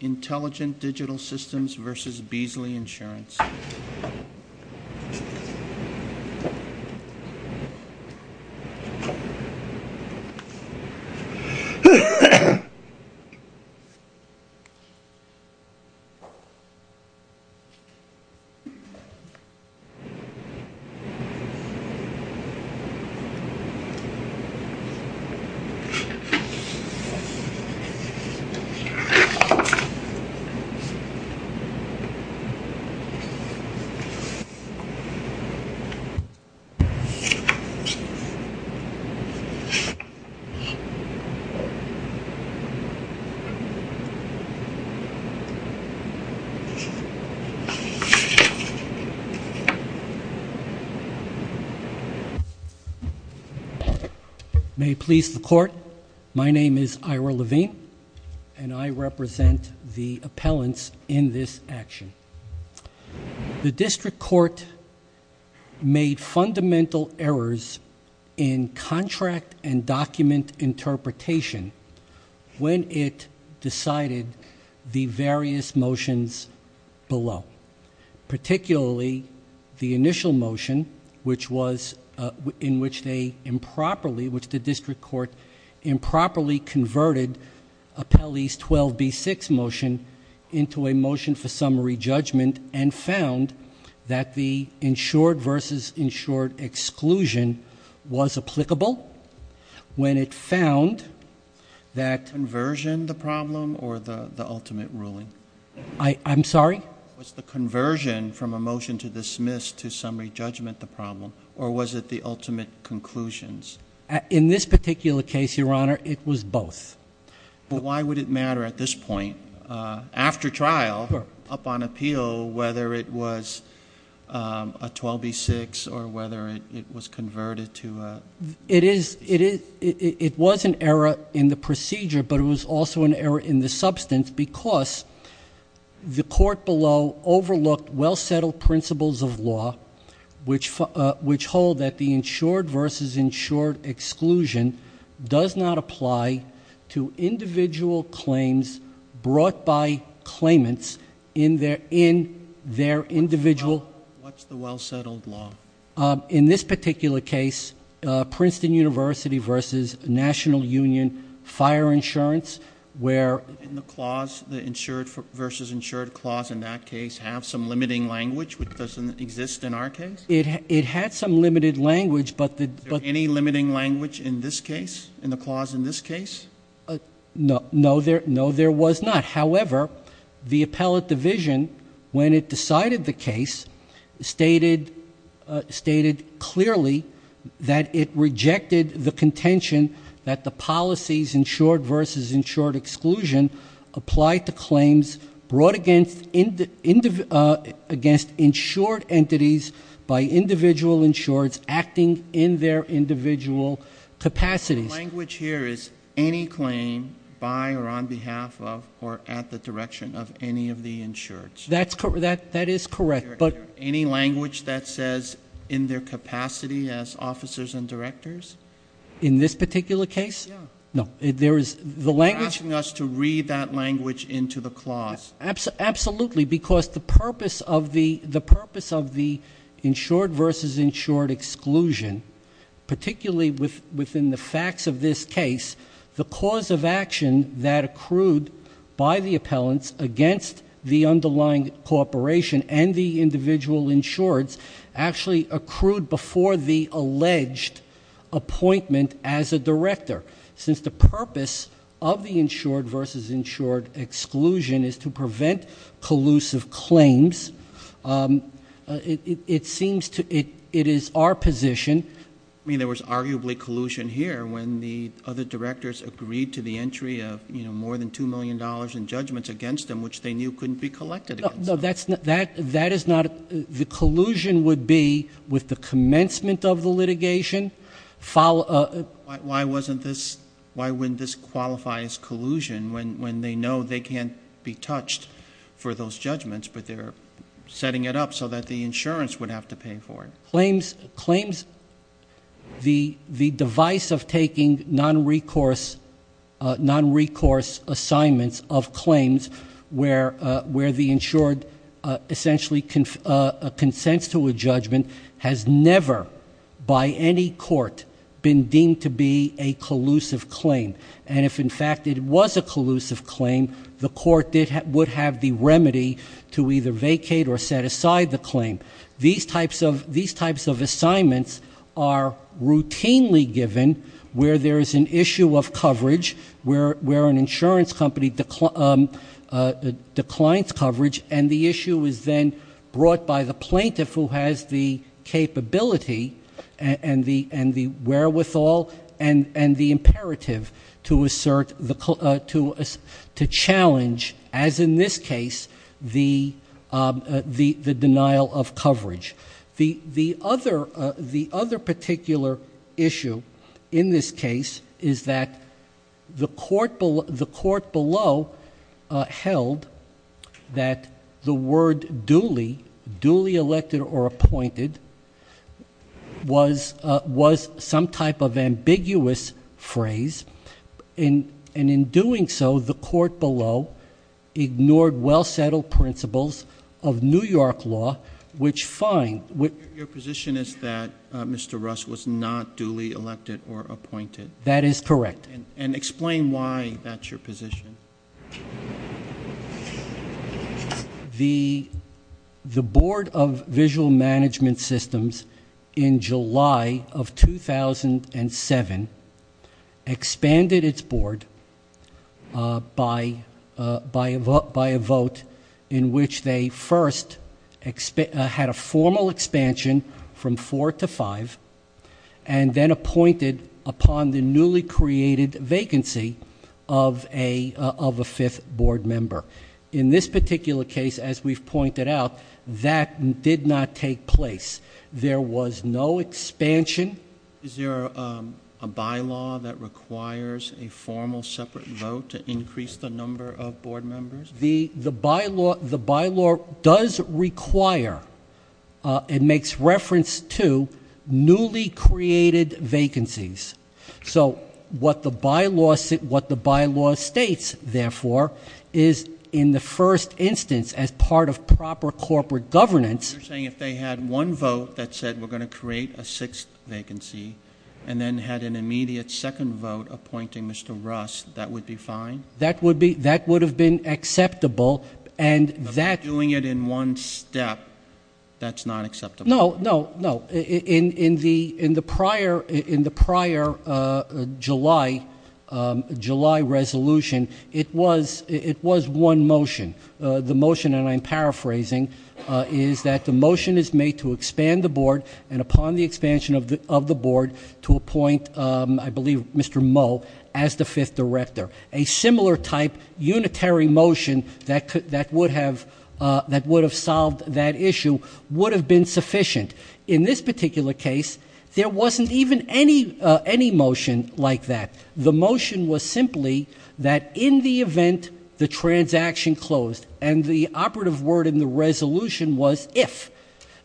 Intelligent Digital Systems v. Beasley Insurance May it please the Court, my name is Ira Levine. And I represent the appellants in this action. The District Court made fundamental errors in contract and document interpretation when it decided the various motions below. Particularly the initial motion, which was in which they improperly, which the District Court improperly converted Appellee's 12B6 motion into a motion for summary judgment and found that the insured v. insured exclusion was applicable when it found that Was the conversion the problem or the ultimate ruling? I'm sorry? Was the conversion from a motion to dismiss to summary judgment the problem or was it the ultimate conclusions? In this particular case, Your Honor, it was both. Why would it matter at this point? After trial, upon appeal, whether it was a 12B6 or whether it was converted to It is, it was an error in the procedure, but it was also an error in the substance because the court below overlooked well-settled principles of law, which hold that the insured v. insured exclusion does not apply to individual claims brought by claimants in their individual What's the well-settled law? In this particular case, Princeton University v. National Union Fire Insurance, where In the clause, the insured v. insured clause in that case, have some limiting language which doesn't exist in our case? It had some limited language, but the Is there any limiting language in this case, in the clause in this case? No, there was not. However, the appellate division, when it decided the case, stated clearly that it rejected the contention that the policies insured versus insured exclusion applied to claims brought against insured entities by individual insureds acting in their individual capacities. Language here is any claim by or on behalf of or at the direction of any of the insureds. That is correct, but Any language that says in their capacity as officers and directors? In this particular case? Yeah. No, there is the language You're asking us to read that language into the clause. Absolutely, because the purpose of the insured versus insured exclusion, particularly within the facts of this case, the cause of action that accrued by the appellants against the underlying corporation and the individual insureds actually accrued before the alleged appointment as a director. Since the purpose of the insured versus insured exclusion is to prevent collusive claims, it seems to, it is our position. I mean, there was arguably collusion here when the other directors agreed to the entry of more than $2 million in judgements against them, which they knew couldn't be collected against them. No, that is not, the collusion would be with the commencement of the litigation, follow. Why wouldn't this qualify as collusion when they know they can't be touched for those judgments, but they're setting it up so that the insurance would have to pay for it? Claims, the device of taking non-recourse assignments of claims where the insured essentially consents to a judgment has never, by any court, been deemed to be a collusive claim. And if, in fact, it was a collusive claim, the court would have the remedy to either vacate or set aside the claim. These types of assignments are routinely given where there is an issue of coverage, where an insurance company declines coverage, and the issue is then brought by the plaintiff who has the capability and the wherewithal and the imperative to assert, to challenge, as in this case, the denial of coverage. The other particular issue in this case is that the court below held that the word duly, duly elected or appointed, was some type of ambiguous phrase. And in doing so, the court below ignored well-settled principles of New York law, which find- Your position is that Mr. Russ was not duly elected or appointed? That is correct. And explain why that's your position. The Board of Visual Management Systems in July of 2007 expanded its board by a vote in which they first had a formal expansion from four to five. And then appointed upon the newly created vacancy of a fifth board member. In this particular case, as we've pointed out, that did not take place. There was no expansion. Is there a bylaw that requires a formal separate vote to increase the number of board members? The bylaw does require, it makes reference to, newly created vacancies. So what the bylaw states, therefore, is in the first instance as part of proper corporate governance. You're saying if they had one vote that said we're going to create a sixth vacancy and then had an immediate second vote appointing Mr. Russ, that would be fine? That would have been acceptable, and that- Doing it in one step, that's not acceptable? No, no, no, in the prior July resolution, it was one motion. The motion, and I'm paraphrasing, is that the motion is made to expand the board and upon the expansion of the board to appoint, I believe, Mr. Moe as the fifth director. A similar type, unitary motion that would have solved that issue would have been sufficient. In this particular case, there wasn't even any motion like that. The motion was simply that in the event the transaction closed, and the operative word in the resolution was if,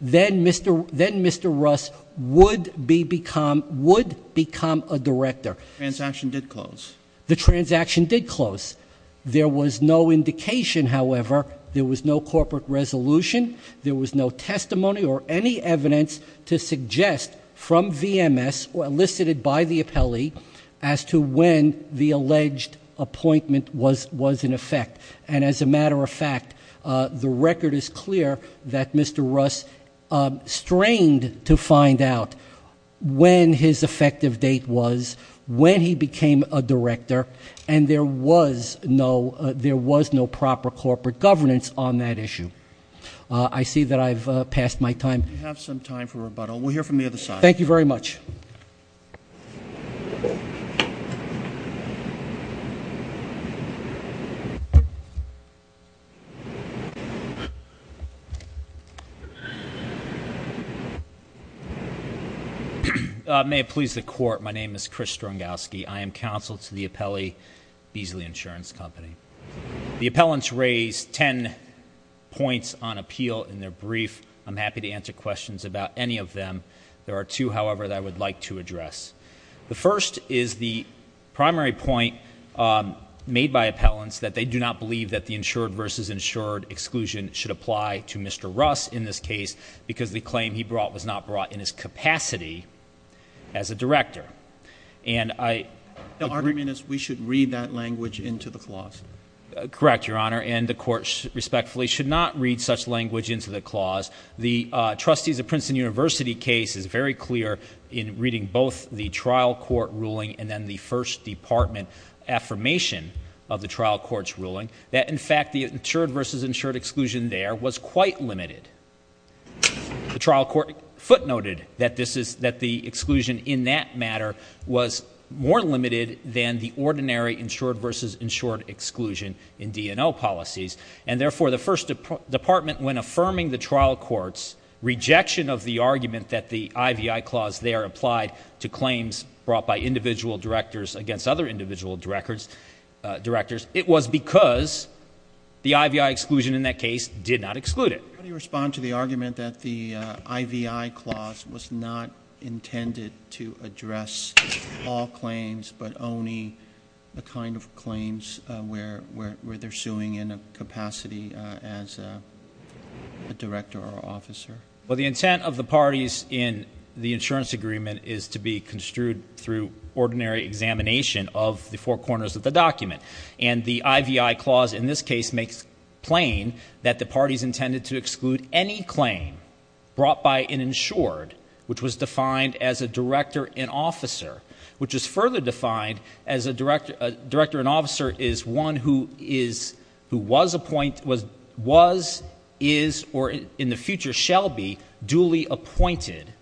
then Mr. Russ would become a director. Transaction did close. The transaction did close. There was no indication, however, there was no corporate resolution, there was no testimony or any evidence to suggest from VMS or elicited by the appellee as to when the alleged appointment was in effect. And as a matter of fact, the record is clear that Mr. Russ strained to find out when his effective date was, when he became a director, and there was no proper corporate governance on that issue. I see that I've passed my time. You have some time for rebuttal. We'll hear from the other side. Thank you very much. May it please the court, my name is Chris Strangowski. I am counsel to the appellee, Beasley Insurance Company. The appellants raised ten points on appeal in their brief. I'm happy to answer questions about any of them. There are two, however, that I would like to address. The first is the primary point made by appellants, that they do not believe that the insured versus insured exclusion should apply to Mr. Russ in this case, because the claim he brought was not brought in his capacity as a director. And I- The argument is we should read that language into the clause. Correct, your honor, and the court respectfully should not read such language into the clause. The trustees of Princeton University case is very clear in reading both the trial court ruling and then the first department affirmation of the trial court's ruling. That in fact, the insured versus insured exclusion there was quite limited. The trial court footnoted that the exclusion in that matter was more limited than the ordinary insured versus insured exclusion in DNL policies. And therefore, the first department, when affirming the trial court's rejection of the argument that the IVI clause there applied to claims brought by individual directors against other individual directors, it was because the IVI exclusion in that case did not exclude it. How do you respond to the argument that the IVI clause was not intended to address all claims, but only the kind of claims where they're suing in a capacity as a director or officer? Well, the intent of the parties in the insurance agreement is to be construed through ordinary examination of the four corners of the document. And the IVI clause in this case makes plain that the parties intended to exclude any claim brought by an insured, which was defined as a director and officer. Which is further defined as a director and officer is one who is, who was, is, or in the future shall be, duly appointed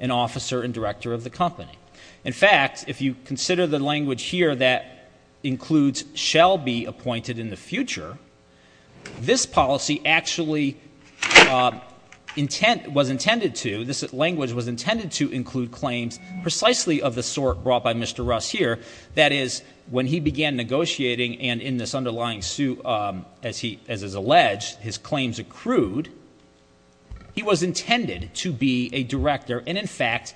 an officer and director of the company. In fact, if you consider the language here that includes shall be appointed in the future, this policy actually was intended to, this language was intended to include claims precisely of the sort brought by Mr. Russ here. That is, when he began negotiating and in this underlying suit, as is alleged, his claims accrued. He was intended to be a director, and in fact,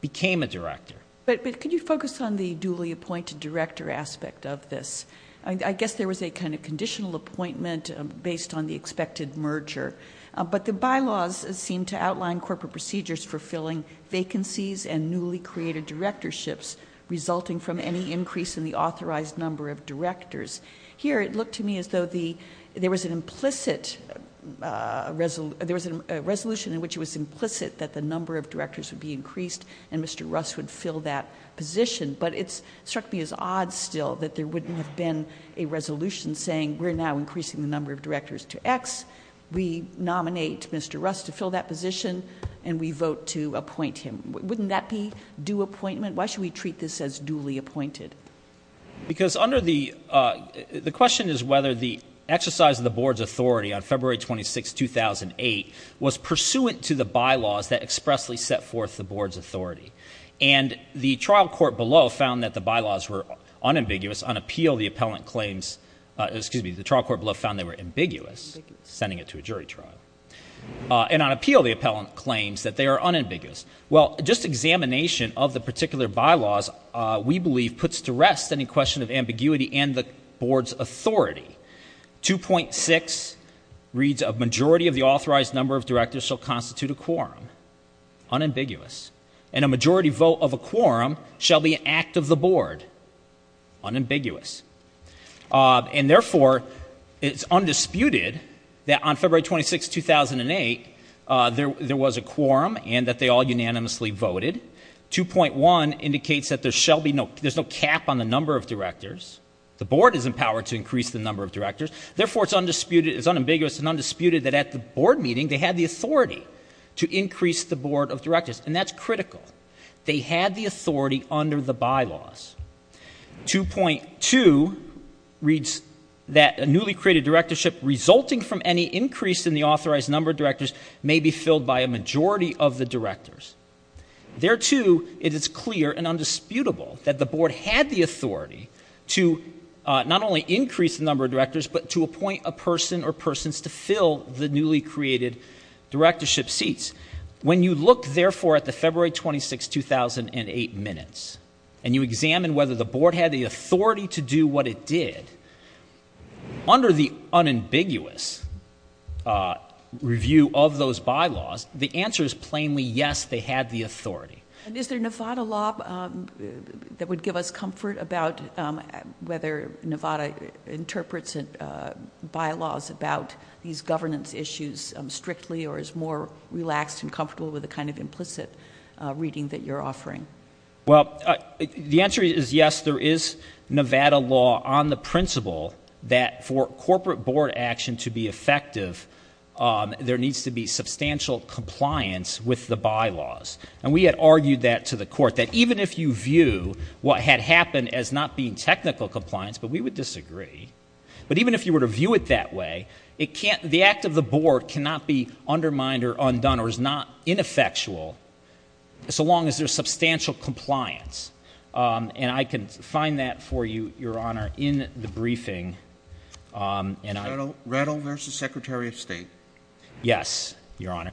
became a director. But could you focus on the duly appointed director aspect of this? I guess there was a kind of conditional appointment based on the expected merger. But the bylaws seem to outline corporate procedures for filling vacancies and newly created directorships resulting from any increase in the authorized number of directors. Here, it looked to me as though there was an implicit, there was a resolution in which it was implicit that the number of directors would be increased and Mr. Russ would fill that position. But it struck me as odd still that there wouldn't have been a resolution saying we're now increasing the number of directors to x. We nominate Mr. Russ to fill that position, and we vote to appoint him. Wouldn't that be due appointment? Why should we treat this as duly appointed? Because under the, the question is whether the exercise of the board's authority on February 26th, 2008 was pursuant to the bylaws that expressly set forth the board's authority. And the trial court below found that the bylaws were unambiguous on appeal. On appeal, the appellant claims, excuse me, the trial court below found they were ambiguous. Sending it to a jury trial. And on appeal, the appellant claims that they are unambiguous. Well, just examination of the particular bylaws, we believe, puts to rest any question of ambiguity and the board's authority. 2.6 reads a majority of the authorized number of directors shall constitute a quorum. Unambiguous. And a majority vote of a quorum shall be an act of the board. Unambiguous. And therefore, it's undisputed that on February 26th, 2008, there was a quorum and that they all unanimously voted. 2.1 indicates that there shall be no, there's no cap on the number of directors. The board is empowered to increase the number of directors. Therefore, it's undisputed, it's unambiguous and undisputed that at the board meeting, they had the authority to increase the board of directors. And that's critical. They had the authority under the bylaws. 2.2 reads that a newly created directorship, resulting from any increase in the authorized number of directors, may be filled by a majority of the directors. There too, it is clear and undisputable that the board had the authority to not only increase the number of directors, but to appoint a person or persons to fill the newly created directorship seats. When you look, therefore, at the February 26th, 2008 minutes, and you examine whether the board had the authority to do what it did, under the unambiguous review of those bylaws, the answer is plainly yes, they had the authority. And is there Nevada law that would give us comfort about whether Nevada interprets bylaws about these governance issues strictly or is more relaxed and comfortable with the kind of implicit reading that you're offering? Well, the answer is yes, there is Nevada law on the principle that for corporate board action to be effective, there needs to be substantial compliance with the bylaws. And we had argued that to the court, that even if you view what had happened as not being technical compliance, but we would disagree. But even if you were to view it that way, the act of the board cannot be undermined or undone or is not ineffectual, so long as there's substantial compliance. And I can find that for you, your honor, in the briefing. Rattle versus Secretary of State. Yes, your honor.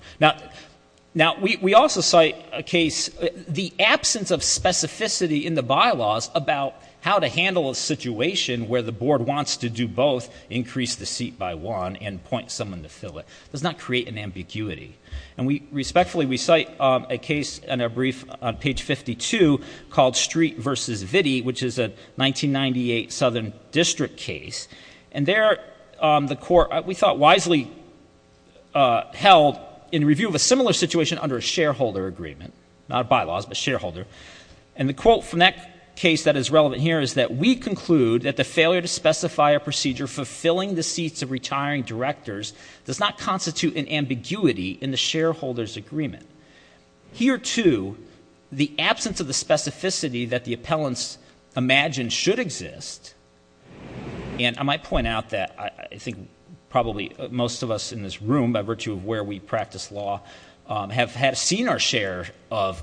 Now, we also cite a case, the absence of specificity in the bylaws about how to handle a situation where the board wants to do both, increase the seat by one, and point someone to fill it. Does not create an ambiguity. And we respectfully, we cite a case in a brief on page 52 called Street versus Viddy, which is a 1998 Southern District case. And there, the court, we thought, wisely held in review of a similar situation under a shareholder agreement. Not bylaws, but shareholder. And the quote from that case that is relevant here is that we conclude that the failure to specify a procedure for filling the seats of retiring directors does not constitute an ambiguity in the shareholder's agreement. Here, too, the absence of the specificity that the appellants imagined should exist. And I might point out that I think probably most of us in this room, by virtue of where we practice law, have had seen our share of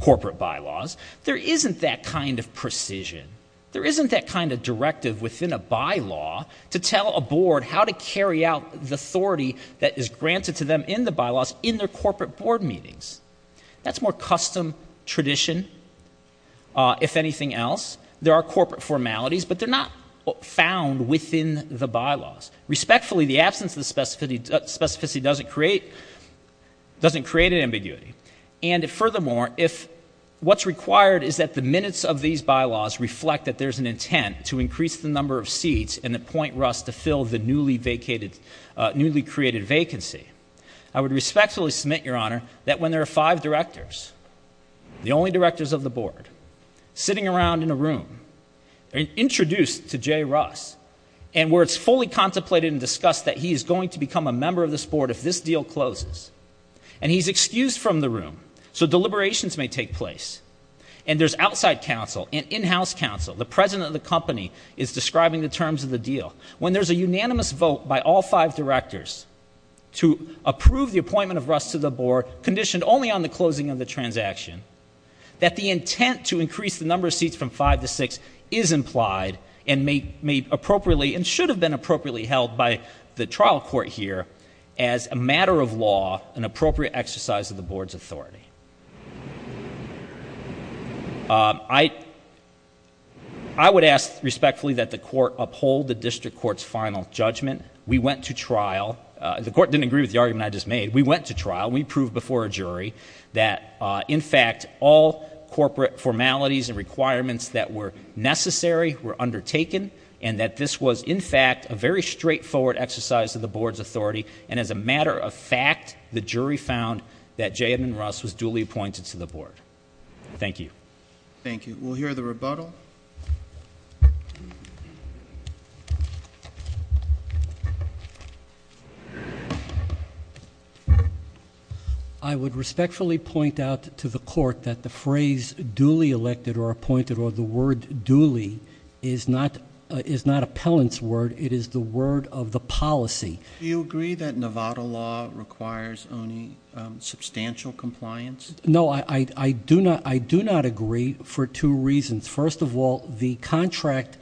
corporate bylaws. There isn't that kind of precision. There isn't that kind of directive within a bylaw to tell a board how to carry out the authority that is granted to them in the bylaws in their corporate board meetings. That's more custom tradition, if anything else. There are corporate formalities, but they're not found within the bylaws. Respectfully, the absence of the specificity doesn't create an ambiguity. And furthermore, what's required is that the minutes of these bylaws reflect that there's an intent to increase the number of seats and appoint Russ to fill the newly created vacancy. I would respectfully submit, Your Honor, that when there are five directors, the only directors of the board, sitting around in a room, introduced to Jay Russ. And where it's fully contemplated and discussed that he is going to become a member of this board if this deal closes. And he's excused from the room, so deliberations may take place. And there's outside counsel and in-house counsel, the president of the company, is describing the terms of the deal. When there's a unanimous vote by all five directors to approve the appointment of Russ to the board, conditioned only on the closing of the transaction, that the intent to increase the number of seats from five to six is implied. And may appropriately, and should have been appropriately held by the trial court here, as a matter of law, an appropriate exercise of the board's authority. I would ask respectfully that the court uphold the district court's final judgment. We went to trial. The court didn't agree with the argument I just made. We went to trial. We proved before a jury that, in fact, all corporate formalities and requirements that were necessary were undertaken, and that this was, in fact, a very straightforward exercise of the board's authority, and as a matter of fact, the jury found that Jay Edmund Russ was duly appointed to the board. Thank you. Thank you. We'll hear the rebuttal. I would respectfully point out to the court that the phrase duly elected or appointed, or the word duly, is not appellant's word. It is the word of the policy. Do you agree that Nevada law requires only substantial compliance? No, I do not agree for two reasons. First of all, the contract,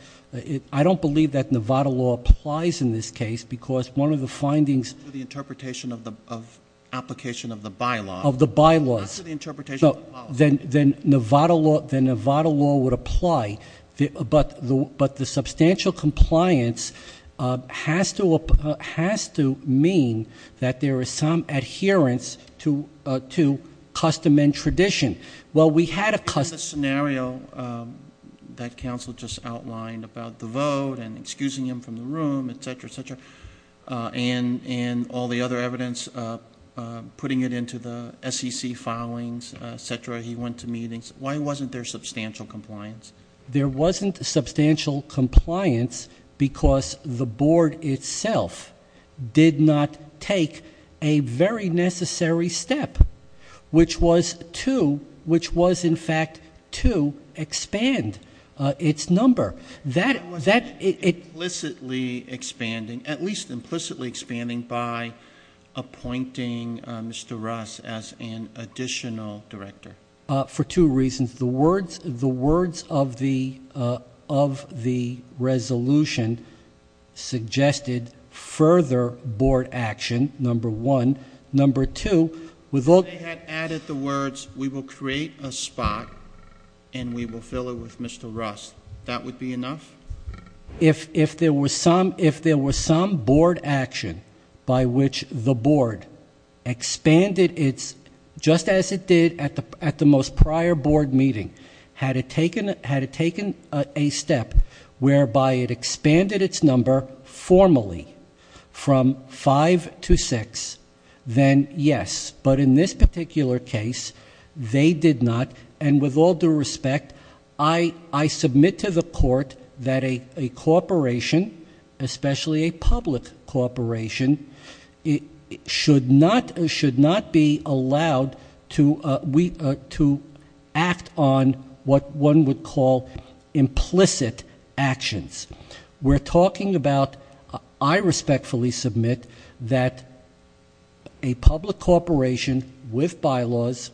I don't believe that Nevada law applies in this case, because one of the findings- The interpretation of the application of the bylaw. Of the bylaw. That's the interpretation of the policy. Then Nevada law would apply, but the substantial compliance has to mean that there is some adherence to custom and tradition. Well, we had a custom- In the scenario that counsel just outlined about the vote and evidence, putting it into the SEC filings, et cetera, he went to meetings. Why wasn't there substantial compliance? There wasn't substantial compliance because the board itself did not take a very necessary step, which was to, which was in fact to expand its number. That- It was implicitly expanding, at least implicitly expanding by appointing Mr. Russ as an additional director. For two reasons. The words of the resolution suggested further board action, number one. Number two, with all- They had added the words, we will create a spot and we will fill it with Mr. Russ. That would be enough? If there was some board action by which the board expanded its, just as it did at the most prior board meeting, had it taken a step whereby it expanded its number formally. From five to six, then yes. But in this particular case, they did not. And with all due respect, I submit to the court that a corporation, especially a public corporation, should not be allowed to act on what one would call implicit actions. We're talking about, I respectfully submit that a public corporation with bylaws,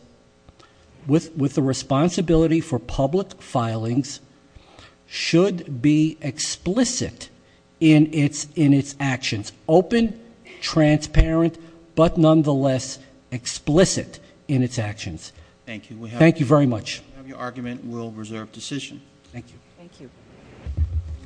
with the responsibility for public filings, should be explicit in its actions. Open, transparent, but nonetheless explicit in its actions. Thank you. Thank you very much. We have your argument, we'll reserve decision. Thank you. Thank you.